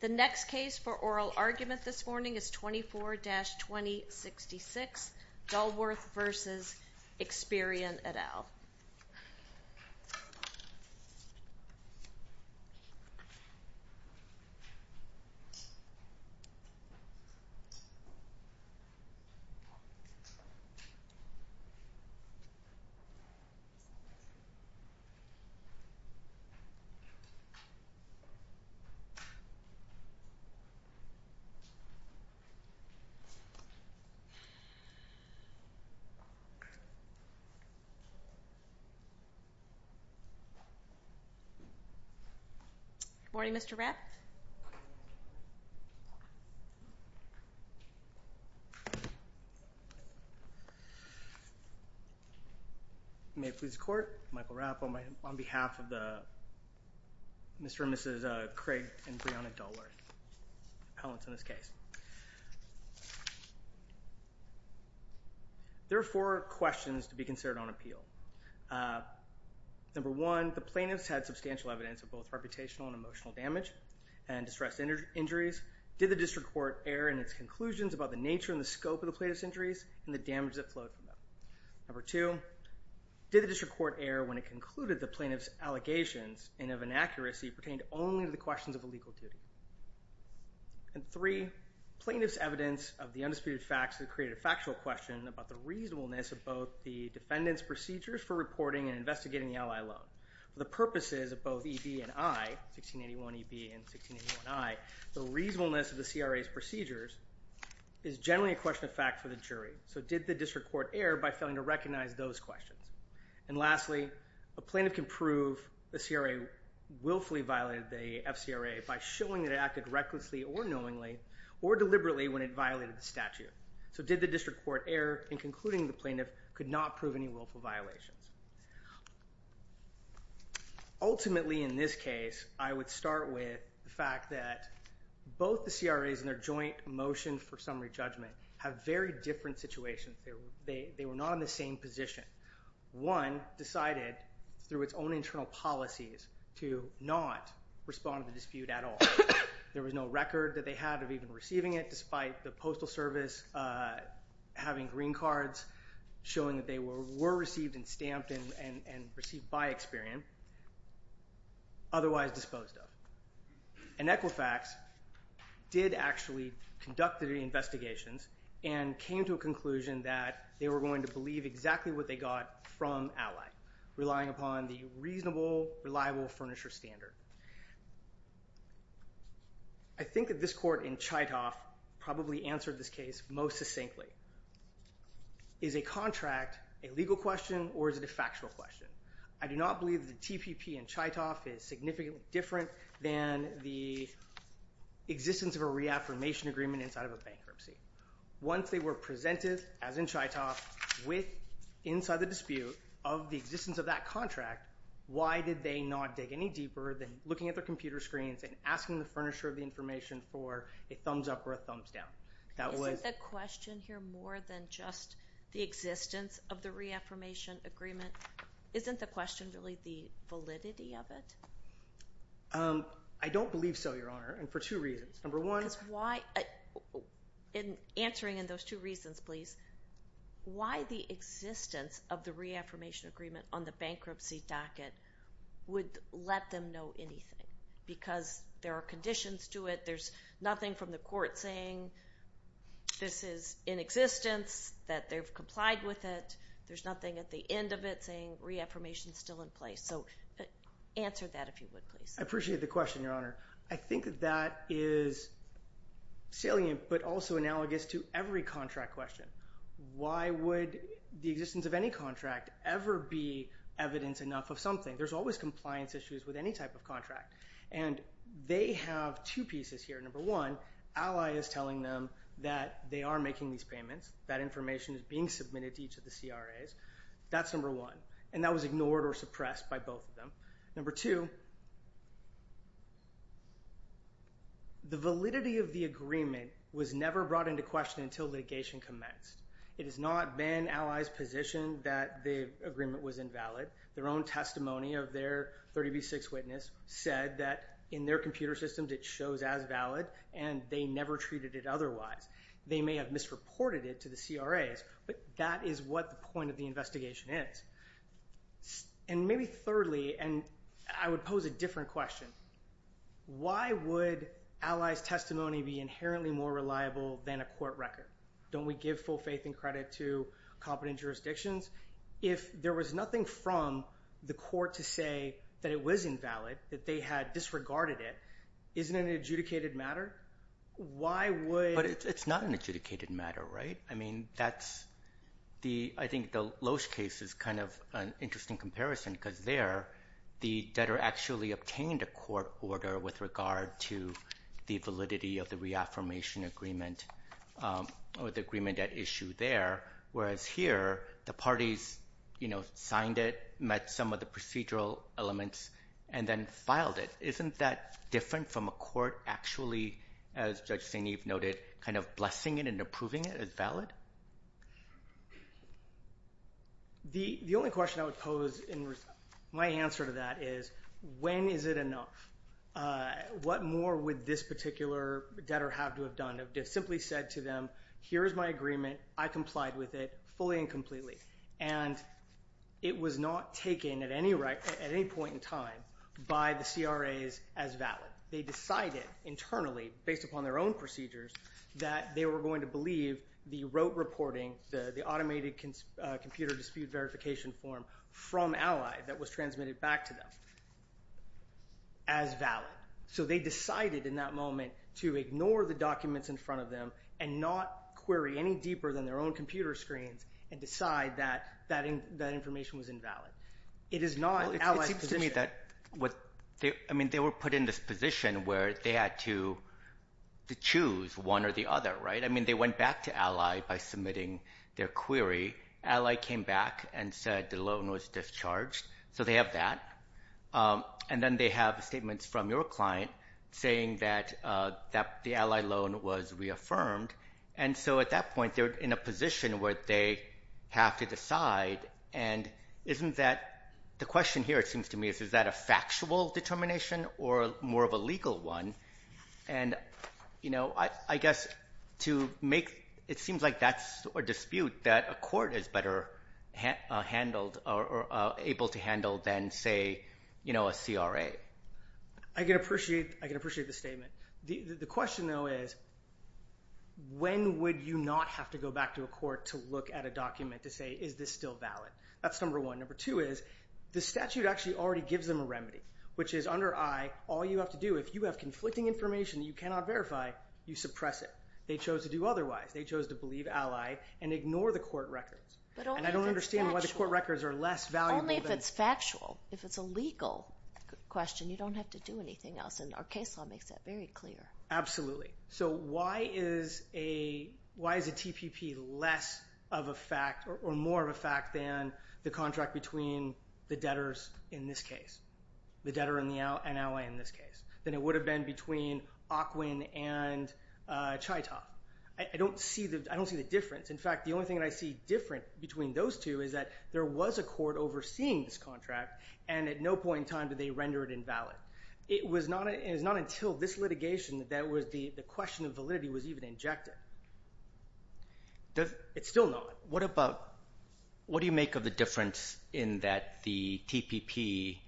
The next case for oral argument this morning is 24-2066, Dulworth v. Experian et al. Good morning, Mr. Rapp. May it please the court, Michael Rapp on behalf of Mr. and Mrs. Craig and Brianna Dulworth, appellants in this case. There are four questions to be considered on appeal. Number one, the plaintiffs had substantial evidence of both reputational and emotional damage and distress injuries. Did the district court err in its conclusions about the nature and the scope of the plaintiff's injuries and the damage that flowed from them? Number two, did the district court err when it concluded the plaintiff's allegations and of inaccuracy pertained only to the questions of a legal duty? And three, plaintiff's evidence of the undisputed facts that created a factual question about the reasonableness of both the defendant's procedures for reporting and investigating the ally loan. For the purposes of both EB and I, 1681 EB and 1681 I, the reasonableness of the CRA's procedures is generally a question of fact for the jury. So did the district court err by failing to recognize those questions? And lastly, a plaintiff can prove the CRA willfully violated the FCRA by showing that it acted recklessly or knowingly or deliberately when it violated the statute. So did the district court err in concluding the plaintiff could not prove any willful violations? Ultimately, in this case, I would start with the fact that both the CRA's and their joint motion for summary judgment have very different situations. They were not in the same position. One decided through its own internal policies to not respond to the dispute at all. There was no record that they had of even receiving it despite the postal service having green cards showing that they were received and stamped and received by Experian, otherwise disposed of. And Equifax did actually conduct the investigations and came to a conclusion that they were going to believe exactly what they got from Ally, relying upon the reasonable, reliable furniture standard. I think that this court in Chytoff probably answered this case most succinctly. Is a contract a legal question or is it a factual question? I do not believe the TPP in Chytoff is significantly different than the existence of a reaffirmation agreement inside of a bankruptcy. Once they were presented, as in Chytoff, with inside the dispute of the existence of that contract, why did they not dig any deeper than looking at their computer screens and asking the furnisher of the information for a thumbs up or a thumbs down? Is it the question here more than just the existence of the reaffirmation agreement? Isn't the question really the validity of it? I don't believe so, Your Honor, and for two reasons. Number one... Answering in those two reasons, please. Why the existence of the reaffirmation agreement on the bankruptcy docket would let them know anything? Because there are conditions to it. There's nothing from the court saying this is in existence, that they've complied with it. There's nothing at the end of it saying reaffirmation is still in place. So answer that if you would, please. I appreciate the question, Your Honor. I think that that is salient but also analogous to every contract question. Why would the existence of any contract ever be evidence enough of something? There's always compliance issues with any type of contract. And they have two pieces here. Number one, Ally is telling them that they are making these payments, that information is being submitted to each of the CRAs. That's number one. And that was ignored or suppressed by both of them. Number two... The validity of the agreement was never brought into question until litigation commenced. It has not been Ally's position that the agreement was invalid. Their own testimony of their 30 v. 6 witness said that in their computer systems it shows as valid, and they never treated it otherwise. They may have misreported it to the CRAs, but that is what the point of the investigation is. And maybe thirdly, and I would pose a different question, why would Ally's testimony be inherently more reliable than a court record? Don't we give full faith and credit to competent jurisdictions? If there was nothing from the court to say that it was invalid, that they had disregarded it, isn't it an adjudicated matter? Why would... But it's not an adjudicated matter, right? I mean, that's the... I think the Loesch case is kind of an interesting comparison because there, the debtor actually obtained a court order with regard to the validity of the reaffirmation agreement or the agreement at issue there. Whereas here, the parties signed it, met some of the procedural elements, and then filed it. Isn't that different from a court actually, as Judge St. Eve noted, kind of blessing it and approving it as valid? The only question I would pose in response... My answer to that is, when is it enough? What more would this particular debtor have to have done? to them, here's my agreement, I complied with it fully and completely. And it was not taken at any point in time by the CRAs as valid. They decided internally, based upon their own procedures, that they were going to believe the rote reporting, the automated computer dispute verification form from Ally that was transmitted back to them as valid. So they decided in that moment to ignore the documents in front of them and not query any deeper than their own computer screens and decide that that information was invalid. It is not Ally's position. It seems to me that, I mean, they were put in this position where they had to choose one or the other, right? I mean, they went back to Ally by submitting their query. Ally came back and said the loan was discharged. So they have that. And then they have statements from your client saying that the Ally loan was reaffirmed. And so at that point, they're in a position where they have to decide. And isn't that... The question here, it seems to me, is, is that a factual determination or more of a legal one? And, you know, I guess to make... It seems like that's a dispute that a court is better handled or able to handle than, say, you know, a CRA. I can appreciate the statement. The question, though, is when would you not have to go back to a court to look at a document to say, is this still valid? That's number one. Number two is the statute actually already gives them a remedy, which is under I, all you have to do, if you have conflicting information that you cannot verify, you suppress it. They chose to do otherwise. They chose to believe Ally and ignore the court records. But only if it's factual. And I don't understand why the court records are less valuable than... Only if it's factual. If it's a legal question, you don't have to do anything else. And our case law makes that very clear. Absolutely. So why is a TPP less of a fact or more of a fact than the contract between the debtors in this case, the debtor and Ally in this case, than it would have been between Ocwin and Chytov? I don't see the difference. In fact, the only thing that I see different between those two is that there was a court overseeing this contract, and at no point in time did they render it invalid. It was not until this litigation that the question of validity was even injected. It's still not. What do you make of the difference in that the TPP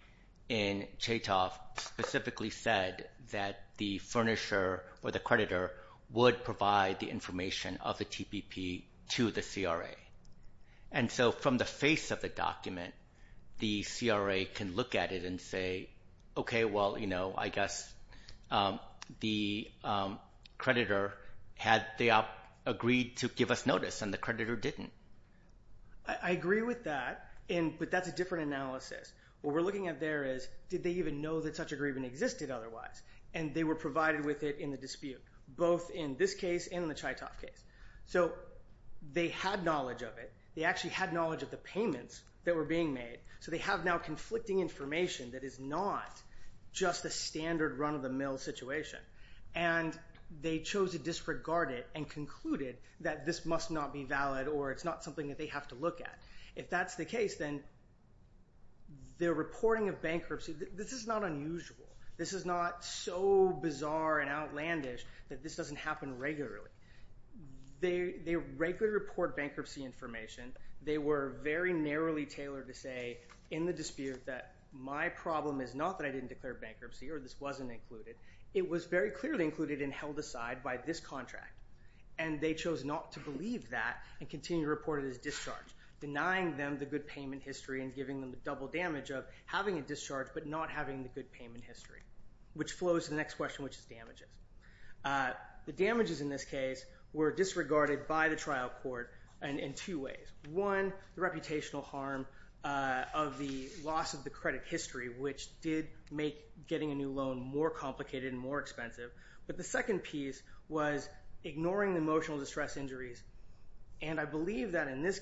in Chytov specifically said that the furnisher or the creditor would provide the information of the TPP to the CRA? And so from the face of the document, the CRA can look at it and say, okay, well, you know, I guess the creditor had agreed to give us notice, and the creditor didn't. I agree with that, but that's a different analysis. What we're looking at there is, did they even know that such a grievance existed otherwise? And they were provided with it in the dispute, both in this case and in the Chytov case. So they had knowledge of it. They actually had knowledge of the payments that were being made, so they have now conflicting information that is not just a standard run-of-the-mill situation. And they chose to disregard it and concluded that this must not be valid or it's not something that they have to look at. If that's the case, then their reporting of bankruptcy, this is not unusual. This is not so bizarre and outlandish that this doesn't happen regularly. They regularly report bankruptcy information. They were very narrowly tailored to say in the dispute that my problem is not that I didn't declare bankruptcy or this wasn't included. It was very clearly included and held aside by this contract, and they chose not to believe that and continue to report it as discharge, denying them the good payment history and which flows to the next question, which is damages. The damages in this case were disregarded by the trial court in two ways. One, the reputational harm of the loss of the credit history, which did make getting a new loan more complicated and more expensive. But the second piece was ignoring the emotional distress injuries, and I believe that in this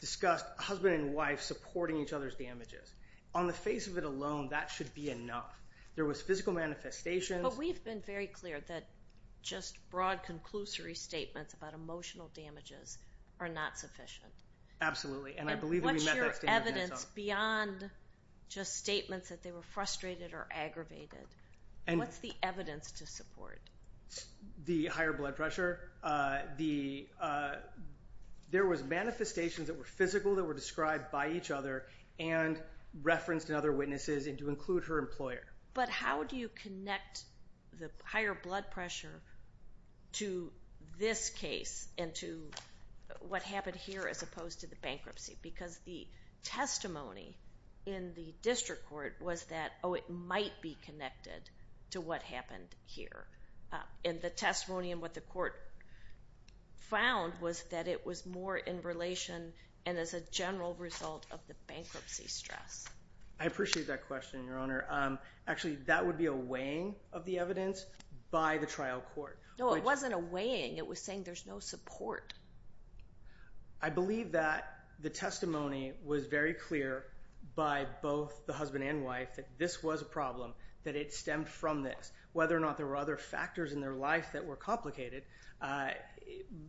discussed husband and wife supporting each other's damages. On the face of it alone, that should be enough. There was physical manifestation. But we've been very clear that just broad conclusory statements about emotional damages are not sufficient. Absolutely, and I believe that we met that standard. And what's your evidence beyond just statements that they were frustrated or aggravated? What's the evidence to support? The higher blood pressure. There was manifestations that were physical that were described by each other and referenced in other witnesses and to include her employer. But how do you connect the higher blood pressure to this case and to what happened here as opposed to the bankruptcy? Because the testimony in the district court was that, oh, it might be connected to what happened here. And the testimony and what the court found was that it was more in relation and as a general result of the bankruptcy stress. I appreciate that question, Your Honor. Actually, that would be a weighing of the evidence by the trial court. No, it wasn't a weighing. It was saying there's no support. I believe that the testimony was very clear by both the husband and wife that this was a problem, that it stemmed from this. Whether or not there were other factors in their life that were complicated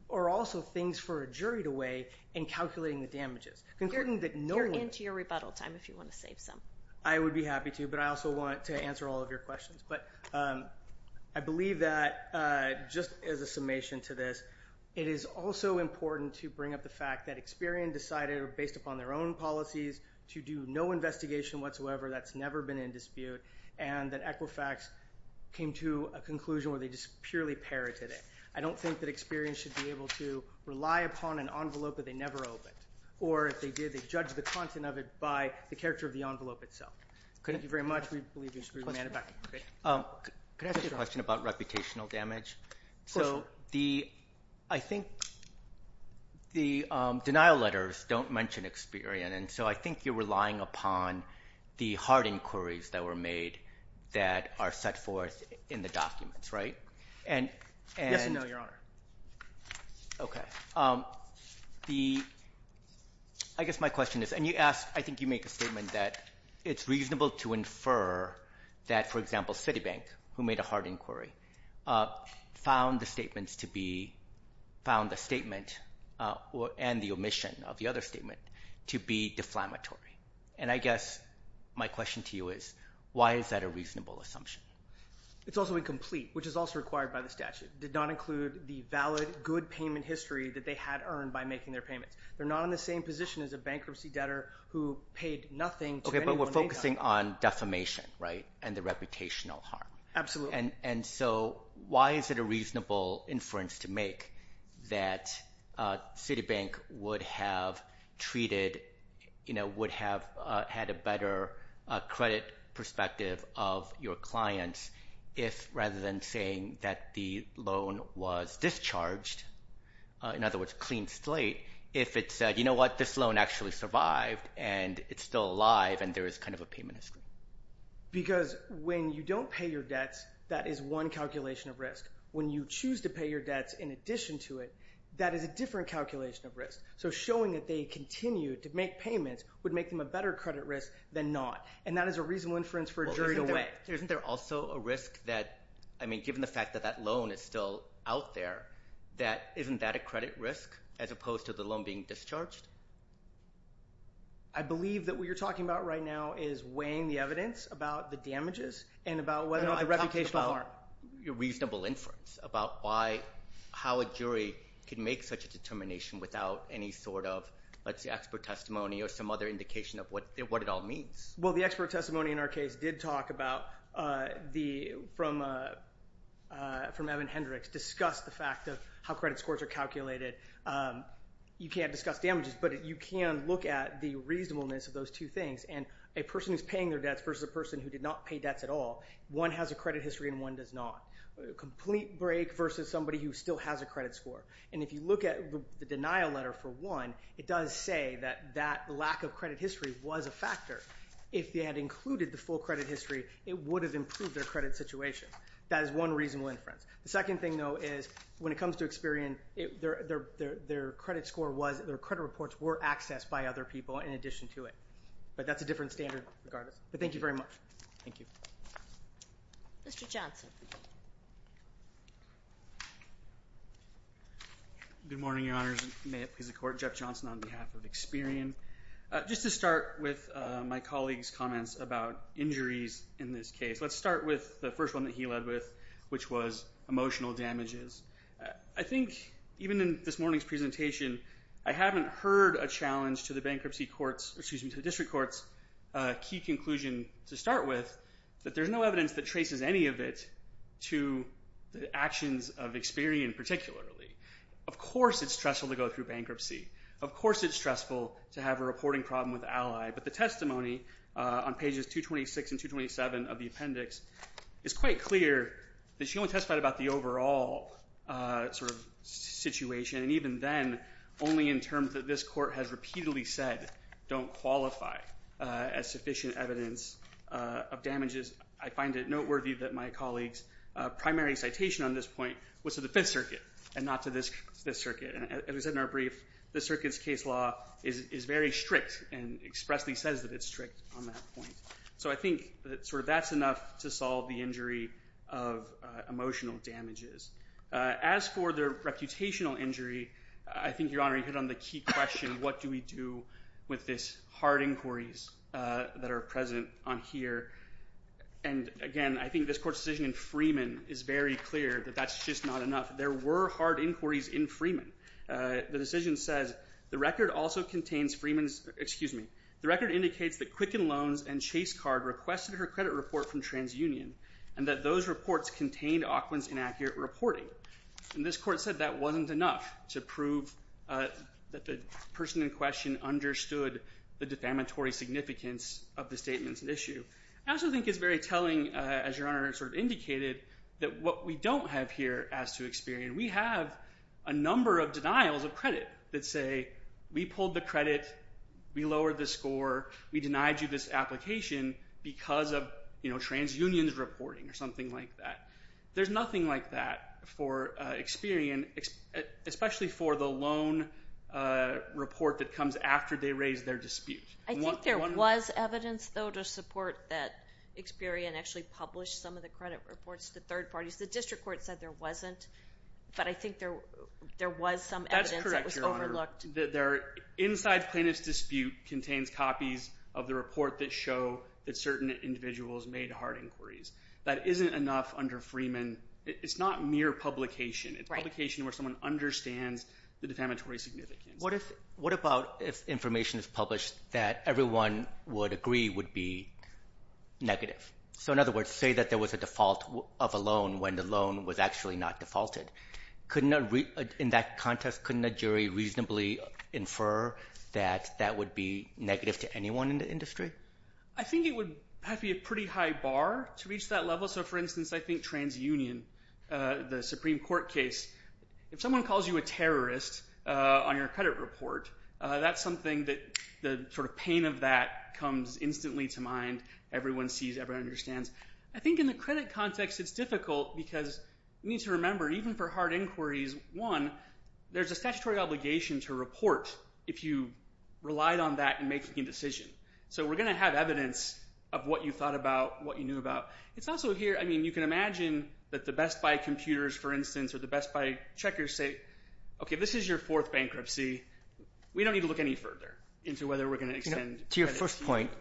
or also things for a jury to weigh in calculating the damages. You're into your rebuttal time if you want to save some. I would be happy to, but I also want to answer all of your questions. But I believe that just as a summation to this, it is also important to bring up the fact that Experian decided based upon their own policies to do no investigation whatsoever. That's never been in dispute. And that Equifax came to a conclusion where they just purely parroted it. I don't think that Experian should be able to rely upon an envelope that they never opened. Or if they did, they judged the content of it by the character of the envelope itself. Thank you very much. We believe you're screwed. Can I ask you a question about reputational damage? Of course, Your Honor. So I think the denial letters don't mention Experian. And so I think you're relying upon the hard inquiries that were made that are set forth in the documents, right? Yes and no, Your Honor. Okay. I guess my question is, and I think you make a statement that it's reasonable to infer that, for example, Citibank, who made a hard inquiry, found the statement and the omission of the other statement to be deflammatory. And I guess my question to you is, why is that a reasonable assumption? It's also incomplete, which is also required by the statute. It did not include the valid, good payment history that they had earned by making their payments. They're not in the same position as a bankruptcy debtor who paid nothing to anyone. Okay, but we're focusing on defamation, right, and the reputational harm. Absolutely. And so why is it a reasonable inference to make that Citibank would have treated, would have had a better credit perspective of your clients if, rather than saying that the loan was discharged, in other words, clean slate, if it said, you know what, this loan actually survived and it's still alive and there is kind of a payment history? Because when you don't pay your debts, that is one calculation of risk. When you choose to pay your debts in addition to it, that is a different calculation of risk. So showing that they continued to make payments would make them a better credit risk than not. And that is a reasonable inference for a jury to weigh. Isn't there also a risk that, I mean, given the fact that that loan is still out there, that isn't that a credit risk as opposed to the loan being discharged? I believe that what you're talking about right now is weighing the evidence about the damages and about whether or not the reputational harm. No, I'm talking about a reasonable inference about why, how a jury can make such a determination without any sort of, let's say, expert testimony or some other indication of what it all means. Well, the expert testimony in our case did talk about the, from Evan Hendricks, discussed the fact of how credit scores are calculated. You can't discuss damages, but you can look at the reasonableness of those two things. And a person who's paying their debts versus a person who did not pay debts at all, one has a credit history and one does not. A complete break versus somebody who still has a credit score. And if you look at the denial letter for one, it does say that that lack of credit history was a factor. If they had included the full credit history, it would have improved their credit situation. That is one reasonable inference. The second thing, though, is when it comes to Experian, their credit score was, their credit reports were accessed by other people in addition to it. But that's a different standard regardless. But thank you very much. Thank you. Mr. Johnson. Good morning, Your Honors. May it please the Court. Jeff Johnson on behalf of Experian. Just to start with my colleague's comments about injuries in this case, let's start with the first one that he led with, which was emotional damages. I think even in this morning's presentation, I haven't heard a challenge to the bankruptcy courts, excuse me, to the district courts, key conclusion to start with, that there's no evidence that traces any of it to the actions of Experian particularly. Of course it's stressful to go through bankruptcy. Of course it's stressful to have a reporting problem with Ally. But the testimony on pages 226 and 227 of the appendix is quite clear that she only testified about the overall sort of situation, and even then only in terms that this Court has repeatedly said don't qualify as sufficient evidence of damages. I find it noteworthy that my colleague's primary citation on this point was to the Fifth Circuit and not to this Circuit. As we said in our brief, the Circuit's case law is very strict and expressly says that it's strict on that point. So I think that sort of that's enough to solve the injury of emotional damages. As for the reputational injury, I think, Your Honor, you hit on the key question, what do we do with this hard inquiries that are present on here? And, again, I think this Court's decision in Freeman is very clear that that's just not enough. There were hard inquiries in Freeman. The decision says, the record also contains Freeman's, excuse me, the record indicates that Quicken Loans and Chase Card requested her credit report from TransUnion and that those reports contained Auckland's inaccurate reporting. And this Court said that wasn't enough to prove that the person in question understood the defamatory significance of the statements at issue. I also think it's very telling, as Your Honor sort of indicated, that what we don't have here as to Experian, we have a number of denials of credit that say, we pulled the credit, we lowered the score, we denied you this application because of TransUnion's reporting or something like that. There's nothing like that for Experian, especially for the loan report that comes after they raise their dispute. I think there was evidence, though, to support that Experian actually published some of the credit reports to third parties. The district court said there wasn't, but I think there was some evidence that was overlooked. Inside plaintiff's dispute contains copies of the report that show that certain individuals made hard inquiries. That isn't enough under Freeman. It's not mere publication. It's publication where someone understands the defamatory significance. What about if information is published that everyone would agree would be negative? In other words, say that there was a default of a loan when the loan was actually not defaulted. In that context, couldn't a jury reasonably infer that that would be negative to anyone in the industry? I think it would have to be a pretty high bar to reach that level. Also, for instance, I think TransUnion, the Supreme Court case. If someone calls you a terrorist on your credit report, that's something that the pain of that comes instantly to mind. Everyone sees, everyone understands. I think in the credit context it's difficult because you need to remember even for hard inquiries, one, there's a statutory obligation to report if you relied on that in making a decision. So we're going to have evidence of what you thought about, what you knew about. It's also here, I mean, you can imagine that the Best Buy computers, for instance, or the Best Buy checkers say, okay, this is your fourth bankruptcy. We don't need to look any further into whether we're going to extend credit here. To your first point,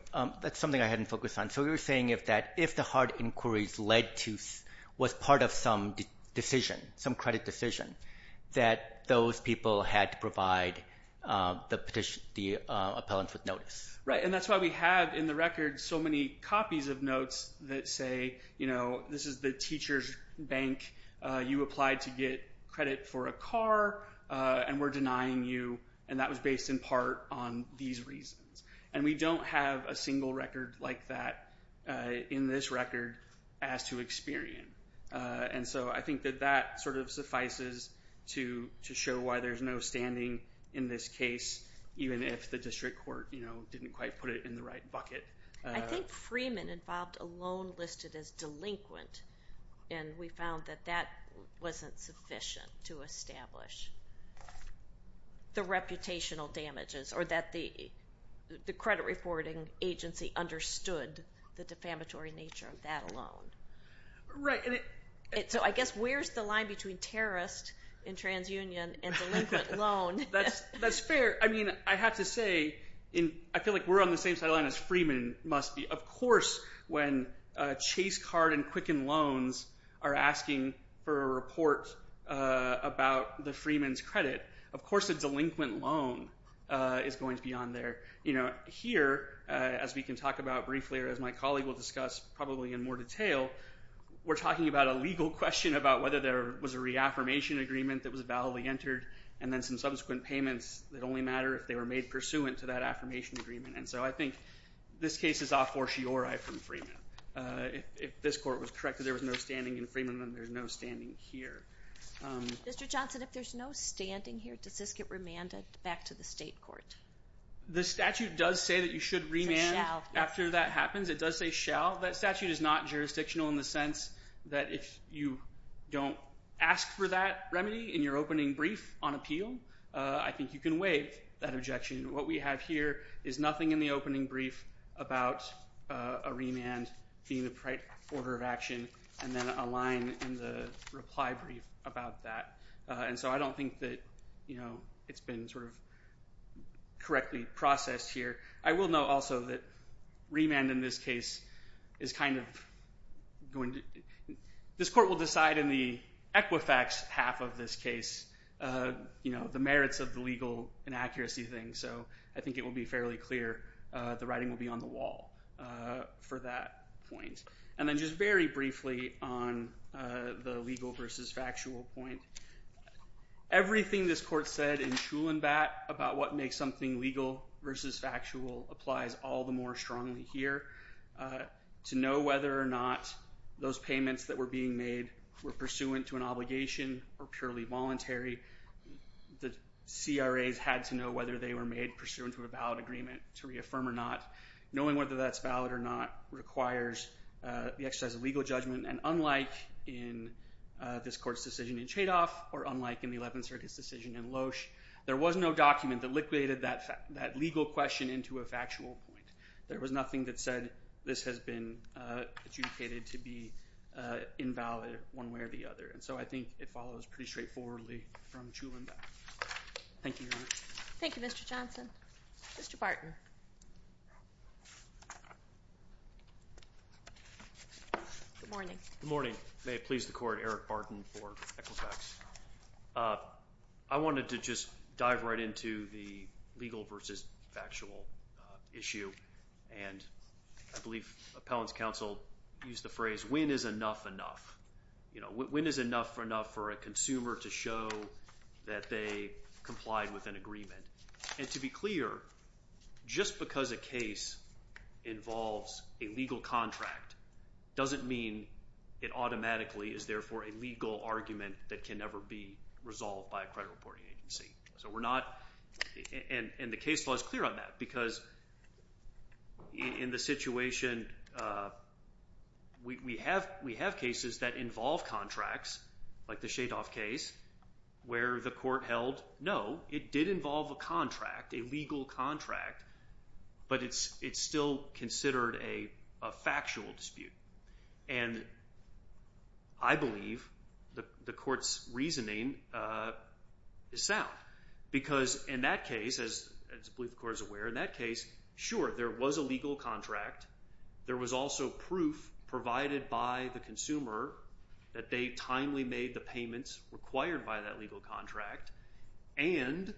that's something I hadn't focused on. So you're saying that if the hard inquiries led to, was part of some decision, some credit decision, that those people had to provide the appellant with notice. Right, and that's why we have in the record so many copies of notes that say, you know, this is the teacher's bank. You applied to get credit for a car, and we're denying you, and that was based in part on these reasons. And we don't have a single record like that in this record as to experience. And so I think that that sort of suffices to show why there's no standing in this case, even if the district court, you know, didn't quite put it in the right bucket. I think Freeman involved a loan listed as delinquent, and we found that that wasn't sufficient to establish the reputational damages, or that the credit reporting agency understood the defamatory nature of that loan. Right. So I guess where's the line between terrorist in TransUnion and delinquent loan? That's fair. I mean, I have to say, I feel like we're on the same sideline as Freeman must be. Of course, when Chase Card and Quicken Loans are asking for a report about the Freeman's credit, of course a delinquent loan is going to be on there. Here, as we can talk about briefly, or as my colleague will discuss probably in more detail, we're talking about a legal question about whether there was a reaffirmation agreement that was validly entered, and then some subsequent payments that only matter if they were made pursuant to that affirmation agreement. And so I think this case is a fortiori from Freeman. If this court was correct that there was no standing in Freeman, then there's no standing here. Mr. Johnson, if there's no standing here, does this get remanded back to the state court? The statute does say that you should remand after that happens. It does say shall. That statute is not jurisdictional in the sense that if you don't ask for that remedy in your opening brief on appeal, I think you can waive that objection. What we have here is nothing in the opening brief about a remand being the right order of action, and then a line in the reply brief about that. And so I don't think that it's been sort of correctly processed here. I will note also that remand in this case is kind of going to – this court will decide in the Equifax half of this case the merits of the legal inaccuracy thing, so I think it will be fairly clear the writing will be on the wall for that point. And then just very briefly on the legal versus factual point, everything this court said in Schulenbat about what makes something legal versus factual applies all the more strongly here. To know whether or not those payments that were being made were pursuant to an obligation or purely voluntary, the CRAs had to know whether they were made pursuant to a valid agreement to reaffirm or not. Knowing whether that's valid or not requires the exercise of legal judgment, and unlike in this court's decision in Chadoff or unlike in the Eleventh Circuit's decision in Loesch, there was no document that liquidated that legal question into a factual point. There was nothing that said this has been adjudicated to be invalid one way or the other, and so I think it follows pretty straightforwardly from Schulenbat. Thank you, Your Honor. Thank you, Mr. Johnson. Mr. Barton. Good morning. Good morning. May it please the Court, Eric Barton for Equifax. I wanted to just dive right into the legal versus factual issue, and I believe appellants counsel used the phrase, when is enough enough? When is enough enough for a consumer to show that they complied with an agreement? And to be clear, just because a case involves a legal contract doesn't mean it automatically is, therefore, a legal argument that can never be resolved by a credit reporting agency, and the case law is clear on that because in the situation we have cases that involve contracts, like the Shadoff case, where the court held, no, it did involve a contract, a legal contract, but it's still considered a factual dispute, and I believe the court's reasoning is sound because in that case, as I believe the Court is aware, in that case, sure, there was a legal contract. There was also proof provided by the consumer that they timely made the payments required by that legal contract and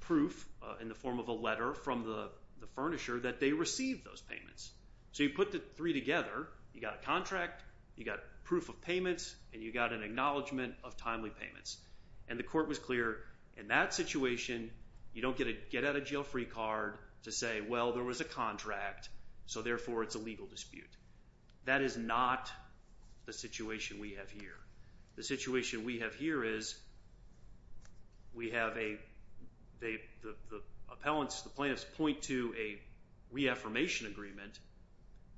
proof in the form of a letter from the furnisher that they received those payments. So you put the three together. You got a contract. You got proof of payments, and you got an acknowledgment of timely payments, and the court was clear in that situation you don't get a get-out-of-jail-free card to say, well, there was a contract, so therefore it's a legal dispute. That is not the situation we have here. The situation we have here is we have the appellants, the plaintiffs, point to a reaffirmation agreement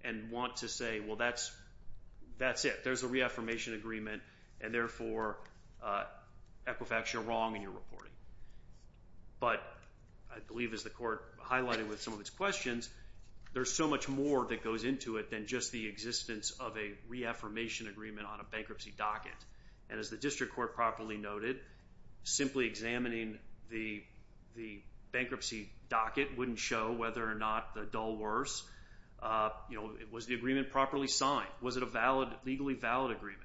and want to say, well, that's it. There's a reaffirmation agreement, and therefore, Equifax, you're wrong and you're reporting. But I believe, as the court highlighted with some of its questions, there's so much more that goes into it than just the existence of a reaffirmation agreement on a bankruptcy docket. And as the district court properly noted, simply examining the bankruptcy docket wouldn't show whether or not the dull worse. You know, was the agreement properly signed? Was it a legally valid agreement?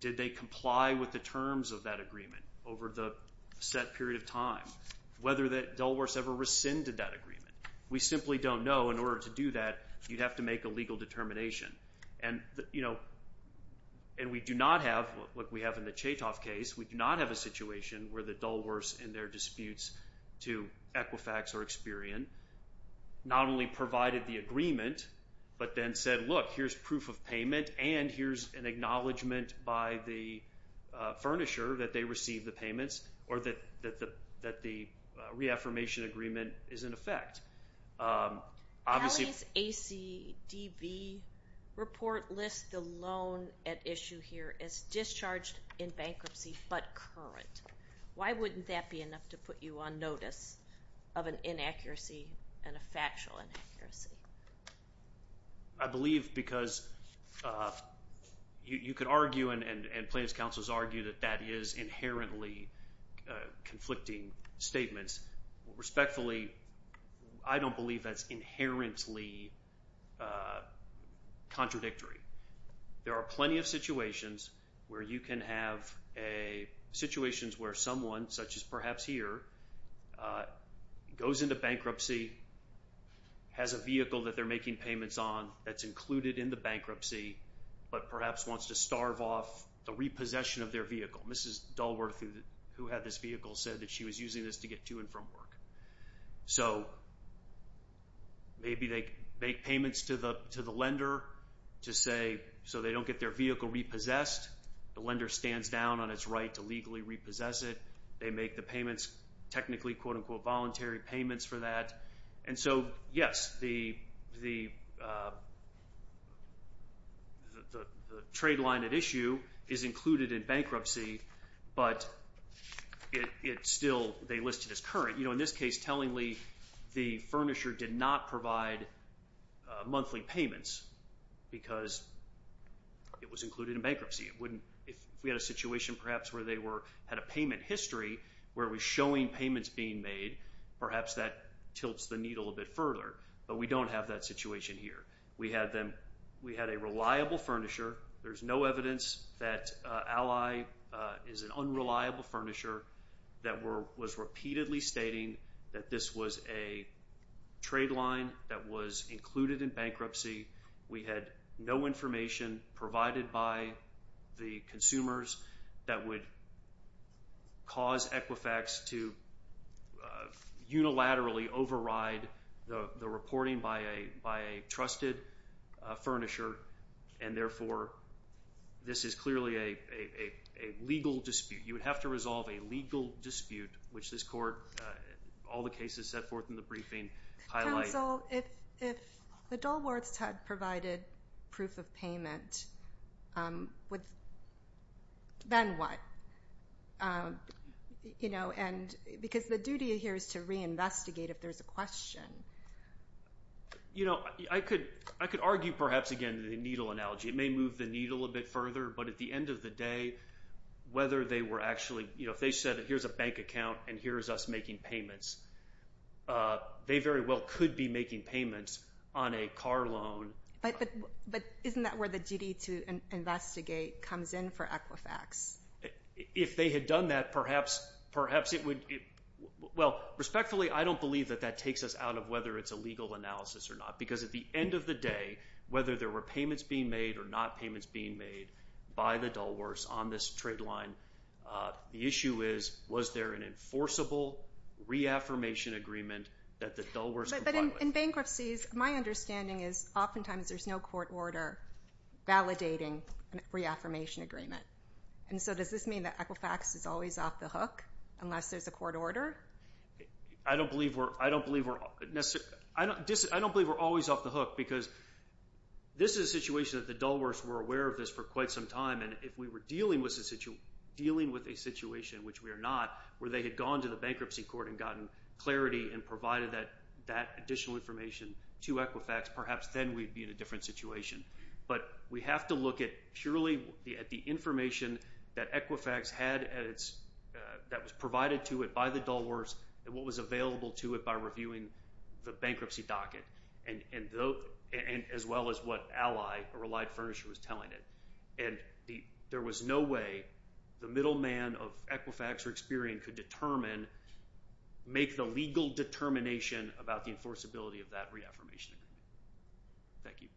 Did they comply with the terms of that agreement over the set period of time? Whether that dull worse ever rescinded that agreement? We simply don't know. In order to do that, you'd have to make a legal determination. And, you know, and we do not have what we have in the Chaytoff case. We do not have a situation where the dull worse in their disputes to Equifax or Experian not only provided the agreement, but then said, look, here's proof of payment and here's an acknowledgement by the furnisher that they received the payments or that the reaffirmation agreement is in effect. Kelly's ACDB report lists the loan at issue here as discharged in bankruptcy but current. Why wouldn't that be enough to put you on notice of an inaccuracy and a factual inaccuracy? I believe because you could argue and plaintiff's counsels argue that that is inherently conflicting statements. Respectfully, I don't believe that's inherently contradictory. There are plenty of situations where you can have situations where someone, such as perhaps here, goes into bankruptcy, has a vehicle that they're making payments on that's included in the bankruptcy, but perhaps wants to starve off the repossession of their vehicle. Mrs. Dulworth, who had this vehicle, said that she was using this to get to and from work. So maybe they make payments to the lender to say so they don't get their vehicle repossessed. The lender stands down on its right to legally repossess it. They make the payments technically, quote, unquote, voluntary payments for that. And so, yes, the trade line at issue is included in bankruptcy, but it's still listed as current. In this case, tellingly, the furnisher did not provide monthly payments because it was included in bankruptcy. If we had a situation perhaps where they had a payment history where it was showing payments being made, perhaps that tilts the needle a bit further, but we don't have that situation here. We had a reliable furnisher. There's no evidence that Ally is an unreliable furnisher that was repeatedly stating that this was a trade line that was included in bankruptcy. We had no information provided by the consumers that would cause Equifax to unilaterally override the reporting by a trusted furnisher and, therefore, this is clearly a legal dispute. You would have to resolve a legal dispute, which this court, all the cases set forth in the briefing highlight. Counsel, if the Dulworths had provided proof of payment, then what? Because the duty here is to reinvestigate if there's a question. I could argue, perhaps, again, the needle analogy. It may move the needle a bit further, but at the end of the day, whether they were actually – if they said here's a bank account and here's us making payments, they very well could be making payments on a car loan. But isn't that where the duty to investigate comes in for Equifax? If they had done that, perhaps it would – well, respectfully, I don't believe that that takes us out of whether it's a legal analysis or not. Because at the end of the day, whether there were payments being made or not payments being made by the Dulworths on this trade line, the issue is was there an enforceable reaffirmation agreement that the Dulworths complied with. But in bankruptcies, my understanding is oftentimes there's no court order validating a reaffirmation agreement. And so does this mean that Equifax is always off the hook unless there's a court order? I don't believe we're always off the hook because this is a situation that the Dulworths were aware of this for quite some time. And if we were dealing with a situation, which we are not, where they had gone to the bankruptcy court and gotten clarity and provided that additional information to Equifax, perhaps then we'd be in a different situation. But we have to look at purely at the information that Equifax had that was provided to it by the Dulworths and what was available to it by reviewing the bankruptcy docket as well as what Ally, a relied furnisher, was telling it. And there was no way the middleman of Equifax or Experian could determine – make the legal determination about the enforceability of that reaffirmation agreement. Thank you.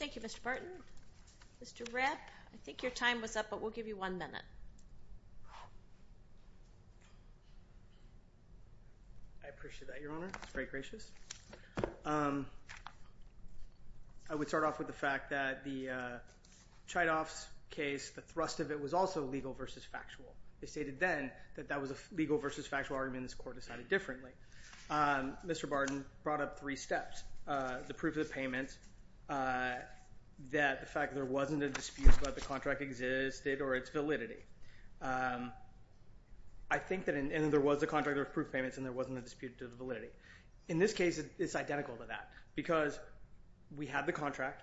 Thank you, Mr. Barton. Mr. Rapp, I think your time was up, but we'll give you one minute. I appreciate that, Your Honor. That's very gracious. I would start off with the fact that the Chidoff's case, the thrust of it was also legal versus factual. They stated then that that was a legal versus factual argument and this court decided differently. Mr. Barton brought up three steps, the proof of the payment, the fact that there wasn't a dispute about the contract existed, or its validity. I think that there was a contract of proof payments and there wasn't a dispute to the validity. In this case, it's identical to that because we had the contract.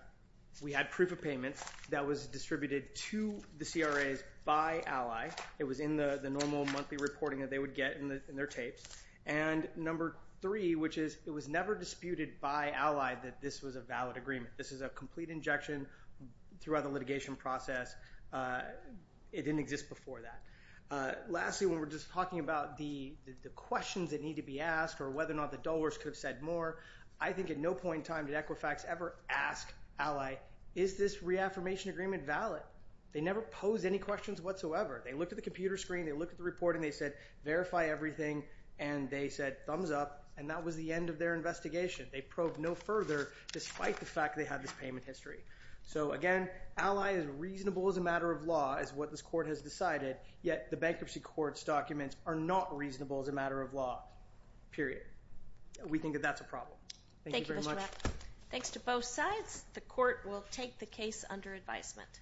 We had proof of payment that was distributed to the CRAs by Ally. It was in the normal monthly reporting that they would get in their tapes. Number three, which is it was never disputed by Ally that this was a valid agreement. This is a complete injection throughout the litigation process. It didn't exist before that. Lastly, when we're just talking about the questions that need to be asked or whether or not the dullers could have said more, I think at no point in time did Equifax ever ask Ally, is this reaffirmation agreement valid? They never posed any questions whatsoever. They looked at the computer screen. They looked at the reporting. They said, verify everything. And they said, thumbs up. And that was the end of their investigation. They probed no further despite the fact they had this payment history. So again, Ally is reasonable as a matter of law is what this court has decided, yet the bankruptcy court's documents are not reasonable as a matter of law, period. We think that that's a problem. Thank you very much. Thanks to both sides. The court will take the case under advisement.